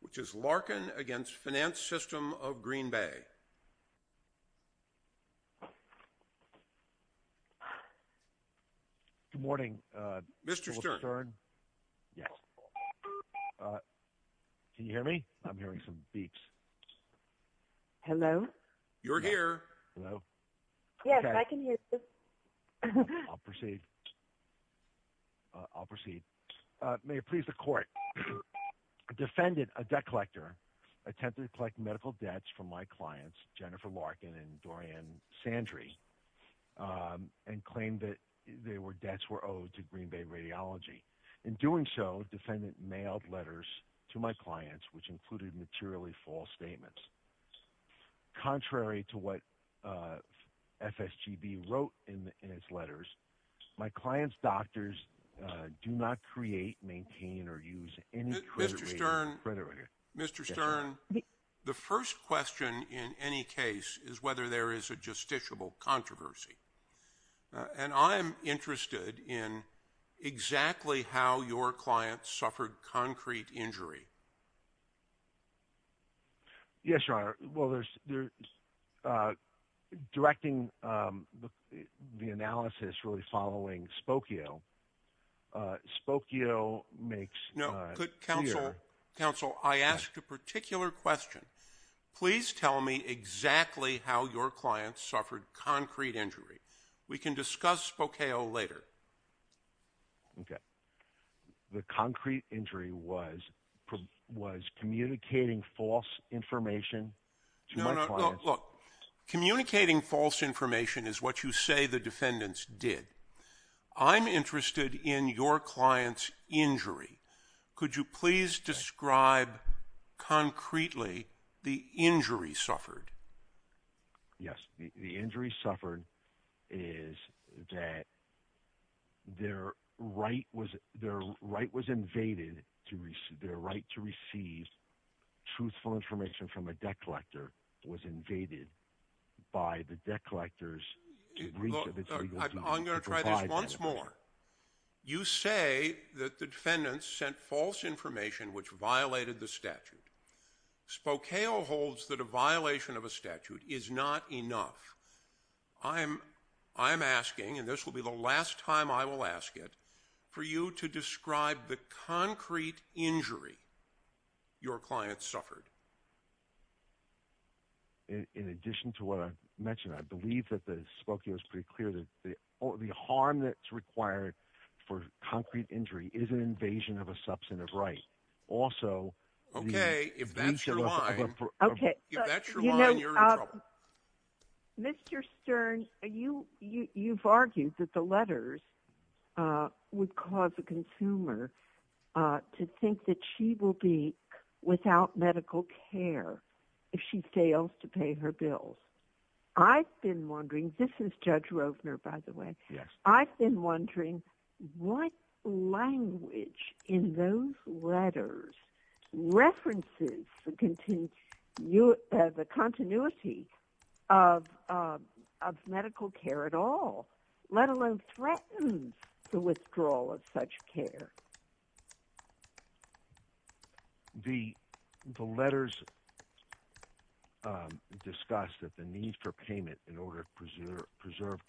which is Larkin against Finance System of Green Bay. Good morning. Mr. Stern. Yes. Can you hear me? I'm hearing some beeps. Hello. You're here. I'll proceed. I'll proceed. Mr. Stern. Mr. Stern. The first question in any case is whether there is a justiciable controversy. And I'm interested in exactly how your client suffered concrete injury. Yes, Your Honor. Well, there's directing the analysis really following Spokio. Spokio makes no good counsel. Counsel, I asked a particular question. Please tell me exactly how your client suffered concrete injury. We can discuss Spokio later. Okay. The concrete injury was was communicating false information. Look, communicating false information is what you say the defendants did. I'm interested in your client's injury. Could you please describe concretely the injury suffered? Yes. The injury suffered is that their right was their right was invaded to receive their right to receive truthful information from a debt collector was invaded by the debt collectors. I'm going to try this once more. You say that the defendants sent false information which violated the statute. Spokio holds that a violation of a statute is not enough. I'm I'm asking and this will be the last time I will ask it for you to describe the concrete injury your client suffered. In addition to what I mentioned, I believe that the Spokio is pretty clear that the harm that's required for concrete injury is an invasion of a substantive right. Also, okay, if that's your line, you're in trouble. Mr. Stern, you've argued that the letters would cause a consumer to think that she will be without medical care if she fails to pay her bills. I've been wondering, this is Judge Rovner, by the way. Yes. I've been wondering what language in those letters references the continuity of medical care at all, let alone threatens the withdrawal of such care. The letters discuss that the need for payment in order to preserve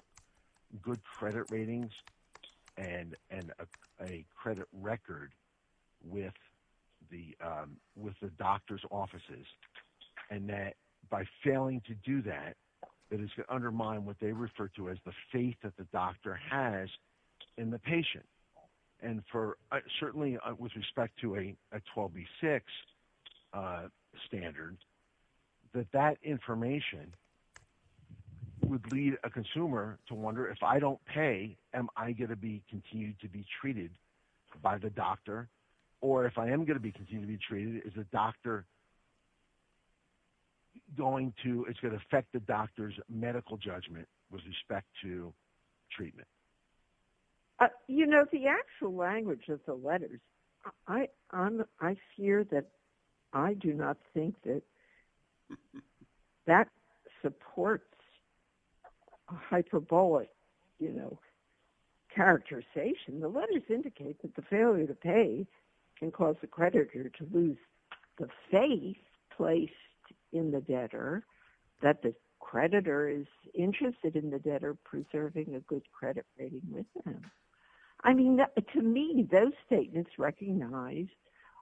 good credit ratings and a credit record with the doctor's offices and that by failing to do that, it is to undermine what they refer to as the faith that the doctor has in the patient. And certainly with respect to a 12b6 standard, that that information would lead a consumer to wonder if I don't pay, am I going to be continued to be treated by the doctor? Or if I am going to be continued to be judgment with respect to treatment? You know, the actual language of the letters, I fear that I do not think that that supports hyperbolic, you know, characterization. The letters indicate that the interested in the debtor preserving a good credit rating with them. I mean, to me, those statements recognize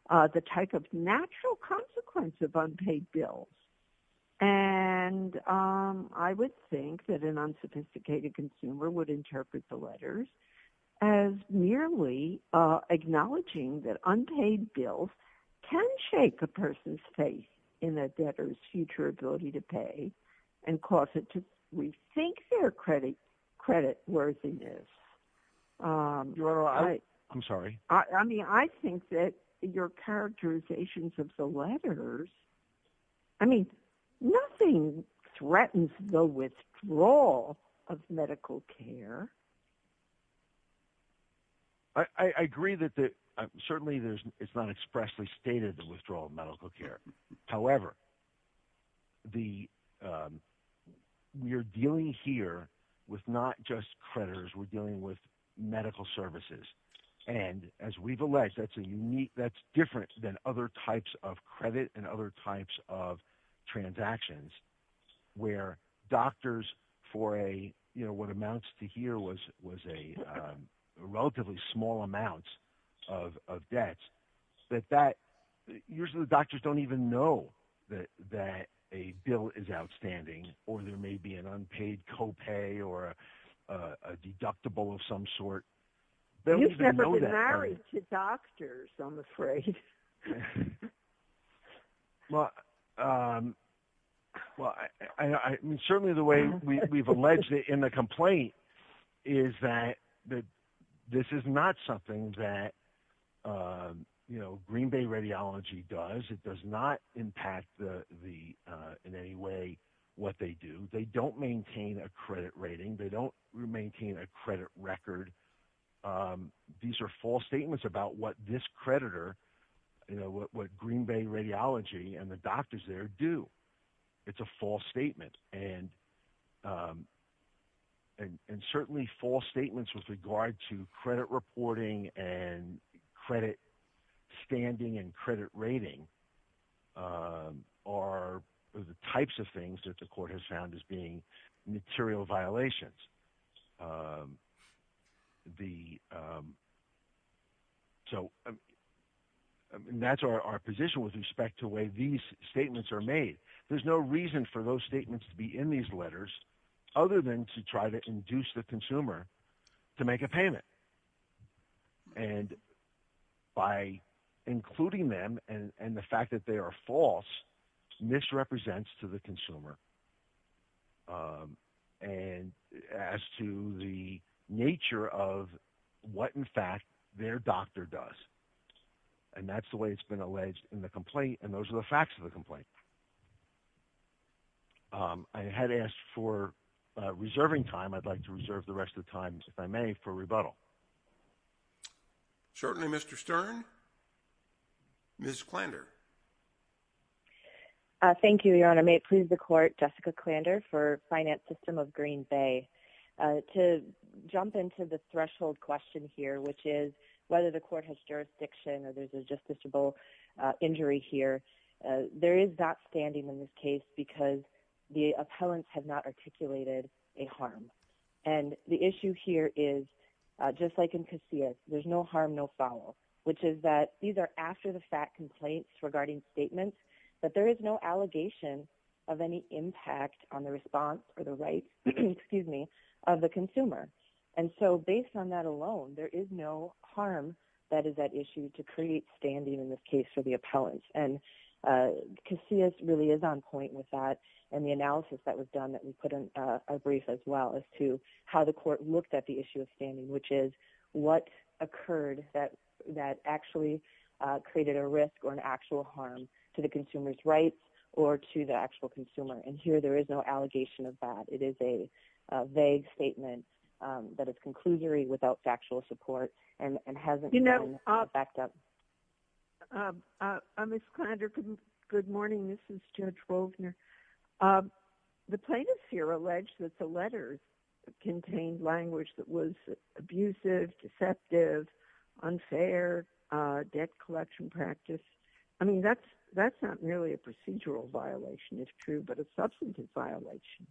the type of natural consequence of unpaid bills. And I would think that an unsophisticated consumer would interpret the letters as merely acknowledging that unpaid bills can shake a credit worthiness. I'm sorry. I mean, I think that your characterizations of the letters, I mean, nothing threatens the withdrawal of medical care. I agree that certainly it's not expressly stated the withdrawal of medical care. However, we're dealing here with not just creditors, we're dealing with medical services. And as we've alleged, that's a unique, that's different than other types of credit and other types of transactions, where doctors for a, you know, what amounts to here was, was a relatively small amounts of debts, that that usually the doctors don't even know that that a bill is outstanding, or there may be an unpaid co-pay or a deductible of some sort. You've never been married to doctors, I'm afraid. Well, I mean, certainly the way we've alleged it in the complaint is that this is not something that, you know, Green Bay Radiology does, it does not impact the, the, in any way, what they do, they don't maintain a credit rating, they don't maintain a credit record. These are false statements about what this creditor, you know, what Green Bay Radiology and the doctors there do. It's a false statement. And, and certainly false statements with regard to credit reporting and credit standing and credit rating are the types of things that the court has found as being material violations. The, so that's our position with respect to the way these statements are made. There's no reason for those statements to be in these letters, other than to try to induce the consumer to make a payment. And by as to the nature of what, in fact, their doctor does. And that's the way it's been alleged in the complaint. And those are the facts of the complaint. I had asked for reserving time, I'd like to reserve the rest of the time, if I may, for rebuttal. Certainly, Mr. Stern. Ms. Klander. Thank you, Your Honor. May it please the court, Jessica Klander for Finance System of Green Bay. To jump into the threshold question here, which is whether the court has jurisdiction or there's a justiciable injury here. There is not standing in this case because the appellants have not articulated a harm. And the issue here is, just like in Casillas, there's no harm, no foul, which is that these are after the fact complaints regarding statements, but there is no allegation of any impact on the response or the rights, excuse me, of the consumer. And so based on that alone, there is no harm that is at issue to create standing in this case for the appellants. And Casillas really is on point with that. And the analysis that was done that we put in a brief as well as to how the court looked at the issue of standing, which is what occurred that actually created a risk or an actual harm to the consumer's rights or to the actual consumer. And here there is no allegation of that. It is a vague statement that is conclusory without factual support and hasn't been backed up. Ms. Klander, good morning. This is Judge Wolfner. The plaintiffs here allege that the letters contained language that was abusive, deceptive, unfair, debt collection practice. I mean, that's not merely a procedural violation, it's true, but a substantive violation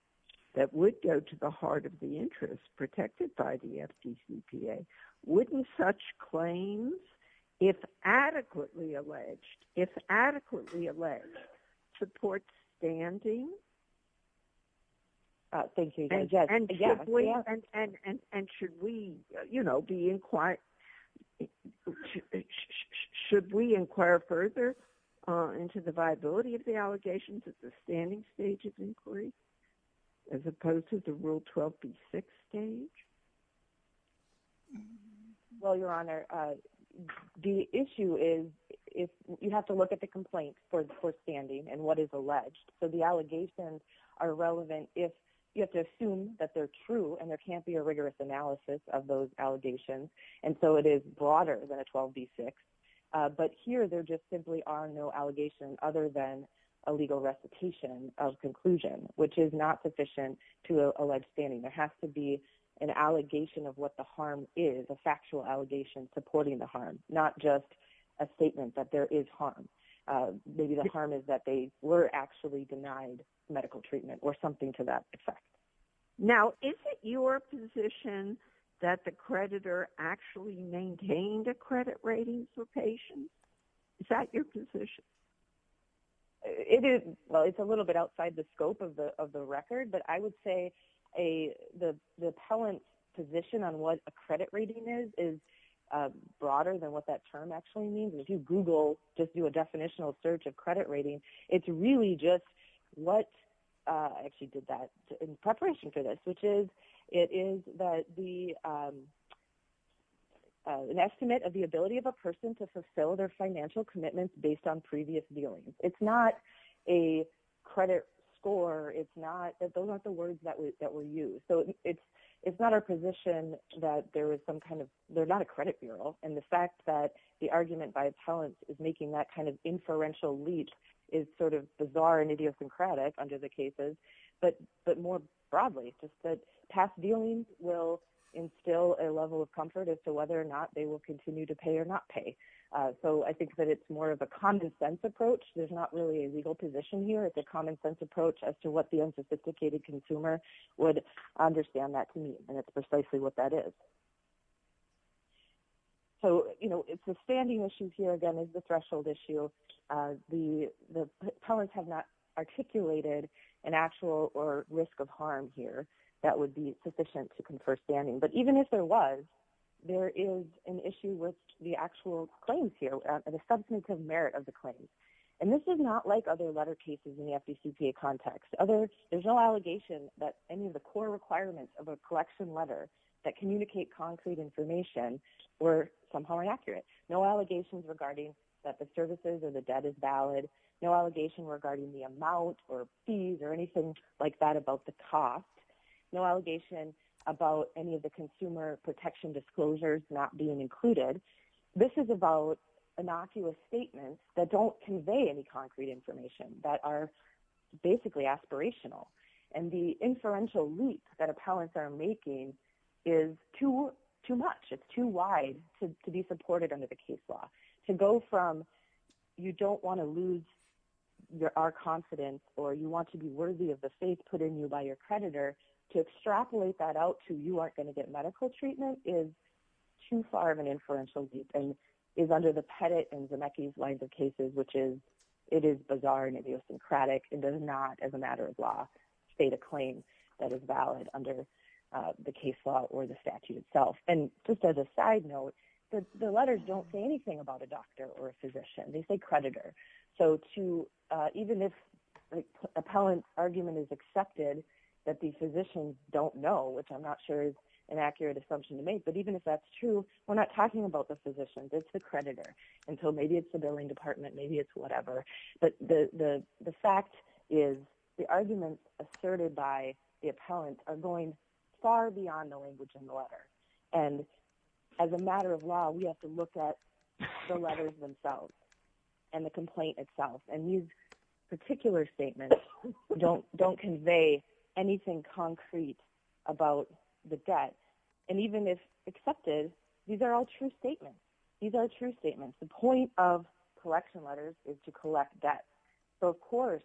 that would go to the heart of the interest protected by the FDCPA. Wouldn't such claims, if adequately alleged, if adequately alleged, support standing? Thank you, Judge. And should we, you know, be inquiring, should we inquire further into the viability of the allegations at the standing stage of inquiry, as opposed to the Rule 12b6 stage? Well, Your Honor, the issue is, you have to look at the complaint for standing and what is alleged. So the allegations are relevant if you have to assume that they're true and there can't be a rigorous analysis of those allegations. And so it is broader than a 12b6. But here there just simply are no allegations other than a legal recitation of conclusion, which is not sufficient to allege standing. There has to be an allegation of what the harm is, a factual allegation supporting the harm, not just a statement that there is harm. Maybe the harm is that they were actually denied medical treatment or something to that effect. Now, is it your position that the creditor actually maintained a credit rating for patients? Is that your position? It is, well, it's a little bit outside the scope of the record, but I would say the appellant's position on what a credit rating is, is broader than what that term actually means. And if you Google, just do a definitional search of credit rating, it's really just what, I actually did that in preparation for this, which is, it is that the, an estimate of the ability of a person to fulfill their financial commitments based on previous dealings. It's not a credit score. It's not, those aren't the words that were used. So it's not our position that there was some kind of, they're not a credit bureau. And the fact that the argument by appellants is making that kind of inferential leach is sort of bizarre and idiosyncratic under the cases. But more broadly, just that past dealings will instill a level of comfort as to whether or not they will continue to pay or not pay. So I think that it's more of a common sense approach. There's not really a legal position here. It's a common sense approach as to what the unsophisticated consumer would understand that to mean. And it's precisely what that is. So, you know, it's the standing issues here, again, is the threshold issue. The appellants have not articulated an actual or risk of harm here that would be sufficient to confer standing. But even if there was, there is an issue with the actual claims here, the substantive merit of the claims. And this is not like other letter cases in the FDCPA context. There's no allegation that any of the core requirements of a collection letter that communicate concrete information were somehow inaccurate. No allegations regarding that the services or the debt is valid. No allegation regarding the amount or fees or anything like that about the cost. No allegation about any of the consumer protection disclosures not being included. This is about innocuous statements that don't convey any concrete information that are basically aspirational. And the inferential leap that appellants are making is too much. It's too wide to be supported under the case law. To go from you don't want to lose our confidence or you want to be worthy of the creditor, to extrapolate that out to you aren't going to get medical treatment is too far of an inferential leap and is under the Pettit and Zemeckis lines of cases, which is, it is bizarre and idiosyncratic and does not as a matter of law, state a claim that is valid under the case law or the statute itself. And just as a side note, the letters don't say anything about a that the physicians don't know, which I'm not sure is an accurate assumption to make. But even if that's true, we're not talking about the physicians, it's the creditor. And so maybe it's the billing department, maybe it's whatever. But the fact is, the arguments asserted by the appellant are going far beyond the language in the letter. And as a matter of law, we have to look at the anything concrete about the debt. And even if accepted, these are all true statements. These are true statements. The point of collection letters is to collect debt. So of course,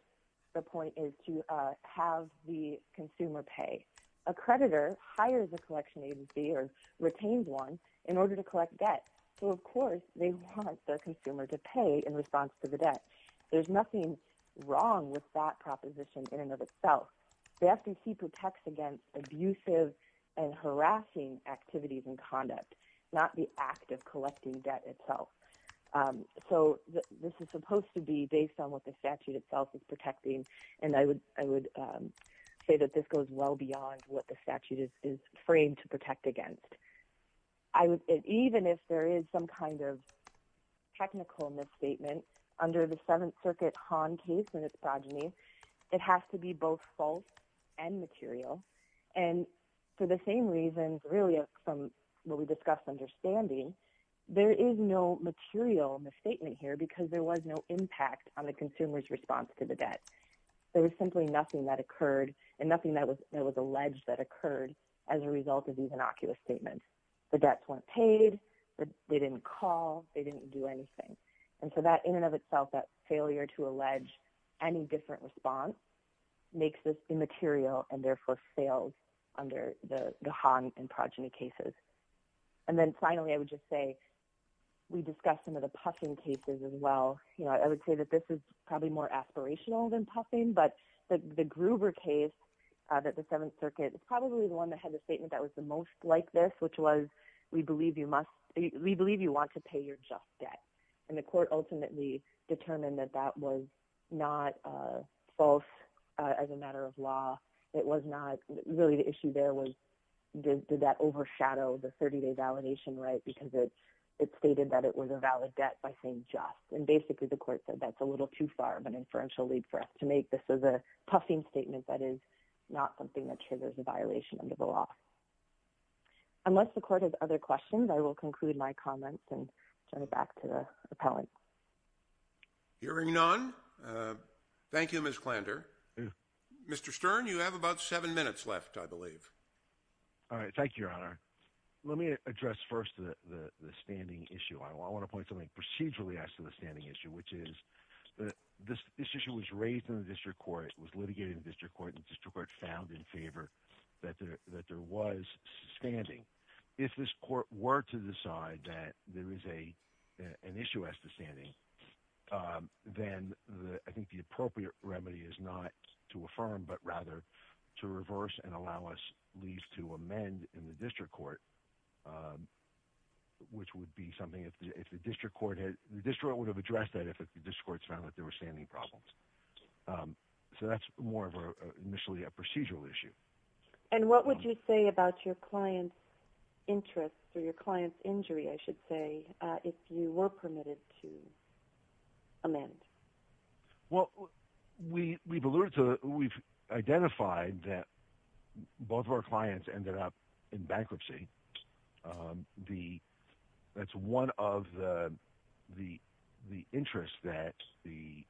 the point is to have the consumer pay. A creditor hires a collection agency or retains one in order to collect debt. So of course, they want their consumer to pay in response to the debt. There's nothing wrong with that proposition in and of itself. The FTC protects against abusive and harassing activities and conduct, not the act of collecting debt itself. So this is supposed to be based on what the statute itself is protecting. And I would I would say that this goes well beyond what the statute is is framed to protect against. I would even if there is some kind of technical misstatement under the Circuit Hahn case and its progeny, it has to be both false and material. And for the same reasons, really, from what we discussed understanding, there is no material misstatement here because there was no impact on the consumer's response to the debt. There was simply nothing that occurred and nothing that was that was alleged that occurred as a result of these innocuous statements. The debts weren't paid. They didn't call. They didn't do anything. And so that in and of itself, that failure to allege any different response makes this immaterial and therefore failed under the Hahn and progeny cases. And then finally, I would just say, we discussed some of the Puffin cases as well. You know, I would say that this is probably more aspirational than Puffin. But the Gruber case that the we believe you want to pay your just debt. And the court ultimately determined that that was not false as a matter of law. It was not really the issue there was did that overshadow the 30-day validation right because it stated that it was a valid debt by saying just. And basically, the court said that's a little too far of an inferential lead for us to make this as a Puffin statement that is not something that triggers a violation under the law. Unless the court has other questions, I will conclude my comments and turn it back to the appellant. Hearing none. Thank you, Miss Klander. Mr. Stern, you have about seven minutes left, I believe. All right. Thank you, Your Honor. Let me address first the standing issue. I want to point something procedurally as to the standing issue, which is that this issue was raised in the district court was litigated in the district court and district court found in favor that there that there was standing. If this court were to decide that there is a an issue as to standing, then the I think the appropriate remedy is not to affirm but rather to reverse and allow us leave to amend in the district court. Which would be something if the district court had the district would have addressed that if the district court found that there were standing problems. So that's more of initially a procedural issue. And what would you say about your client's interest or your client's injury, I should say, if you were permitted to amend? Well, we we've alluded to we've identified that both of our clients ended up in bankruptcy. The that's one of the the the interest that the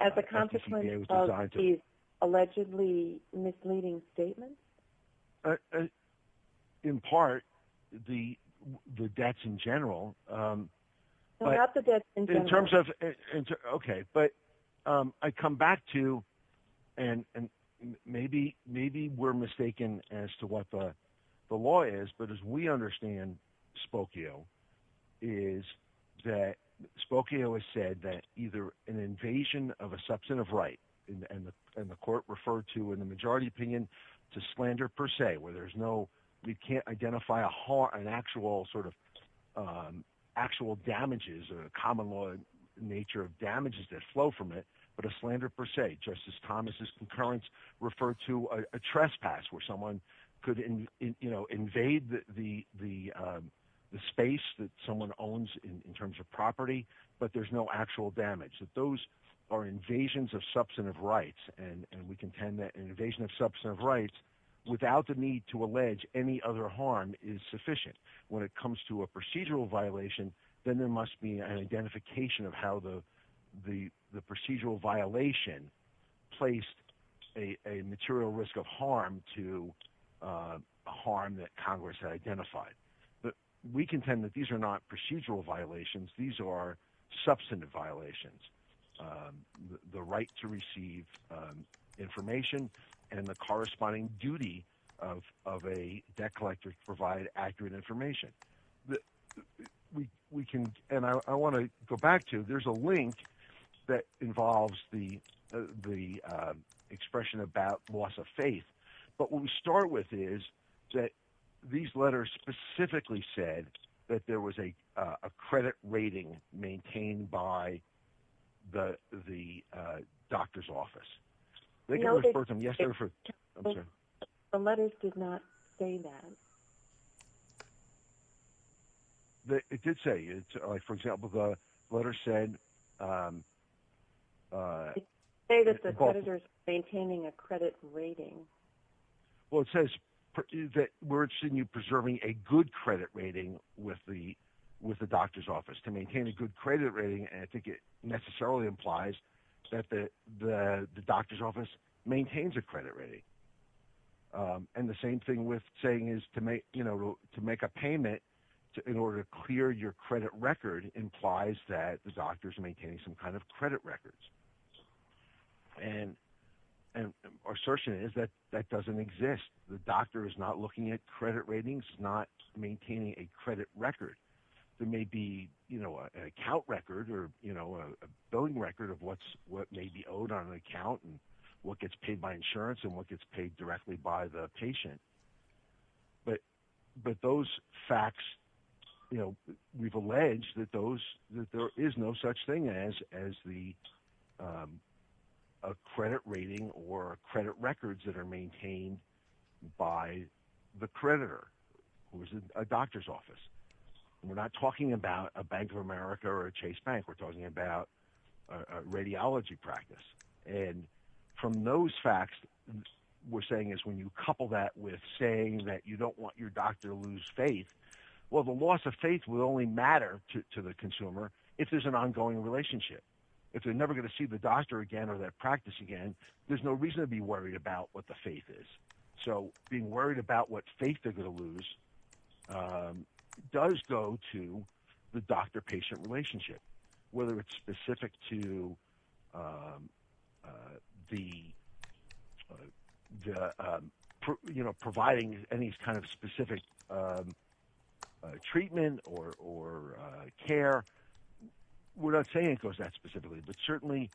as a consequence of the allegedly misleading statement. In part, the the debts in general. In terms of okay, but I come back to and maybe maybe we're mistaken as to what the law is. But as we understand Spokio is that Spokio has said that either an invasion of a substantive right and the court referred to in the majority opinion to slander per se, where there's no we can't identify a whole an actual sort of actual damages or common law nature of damages that flow from it, but a slander per se. Justice Thomas's concurrence refer to a trespass where someone could invade the space that someone owns in terms of property, but there's no actual damage that those are invasions of substantive rights and we contend that an invasion of substantive rights without the need to allege any other harm is sufficient. When it comes to a procedural violation, then there must be an identification of how the the the procedural violation placed a material risk of harm to Harm that Congress identified that we contend that these are not procedural violations. These are substantive violations. The right to receive information and the corresponding duty of of a debt collector provide accurate information that we we can and I want to go back to. There's a link that involves the the When we start with is that these letters specifically said that there was a credit rating maintained by the the doctor's office. The letters did not say that. That it did say it's like, for example, the letter said They that the editors maintaining a credit rating. Well, it says that we're seeing you preserving a good credit rating with the with the doctor's office to maintain a good credit rating and to get necessarily implies that the the doctor's office maintains a credit rating. And the same thing with saying is to make you know to make a payment in order to clear your credit record implies that the doctors maintaining some kind of credit records. And, and our assertion is that that doesn't exist. The doctor is not looking at credit ratings not maintaining a credit record. There may be, you know, an account record or, you know, a billing record of what's what may be owed on an account and what gets paid by insurance and what gets paid directly by the patient. But, but those facts, you know, we've alleged that those that there is no such thing as as the A credit rating or credit records that are maintained by the creditor, who is a doctor's office. We're not talking about a Bank of America or a Chase Bank. We're talking about Radiology practice and from those facts. We're saying is when you couple that with saying that you don't want your doctor lose faith. Well, the loss of faith will only matter to the consumer. If there's an ongoing relationship. If they're never going to see the doctor again or that practice again. There's no reason to be worried about what the faith is. So being worried about what faith, they're going to lose Does go to the doctor patient relationship, whether it's specific to The The, you know, providing any kind of specific Treatment or or care. We're not saying it goes that specifically, but certainly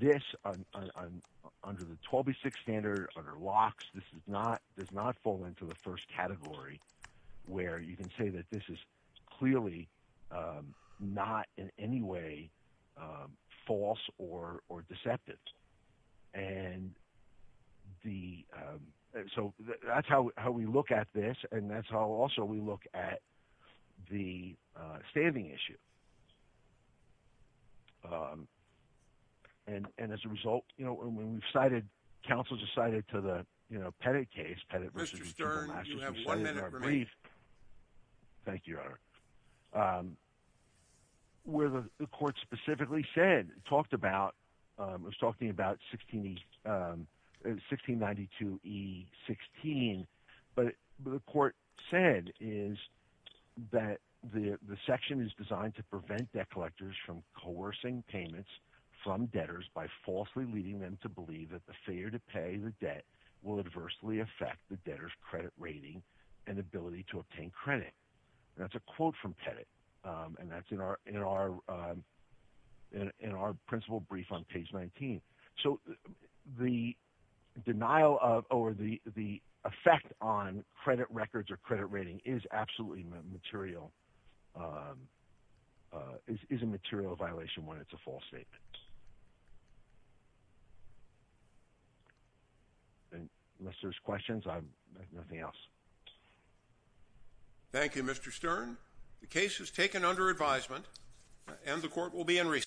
this Under the 12 be six standard under locks. This is not does not fall into the first category where you can say that this is clearly Not in any way false or or deceptive and the so that's how we look at this. And that's how also we look at the standing issue. And and as a result, you know, when we've cited council decided to the, you know, petty case. Mr. Stern, you have one minute for me. Thank you. Whether the court specifically said talked about was talking about 16 1692 he 16 but the court said is that the the section is designed to prevent debt collectors from coercing payments from debtors by falsely leading them to believe that the failure to pay the debt will adversely affect the debtors credit rating and ability to obtain credit. That's a quote from The denial of over the the effect on credit records or credit rating is absolutely material. Is a material violation when it's a false statement. And Mr. Questions. I'm nothing else. Thank you, Mr. Stern. The case is taken under advisement and the court will be in recess.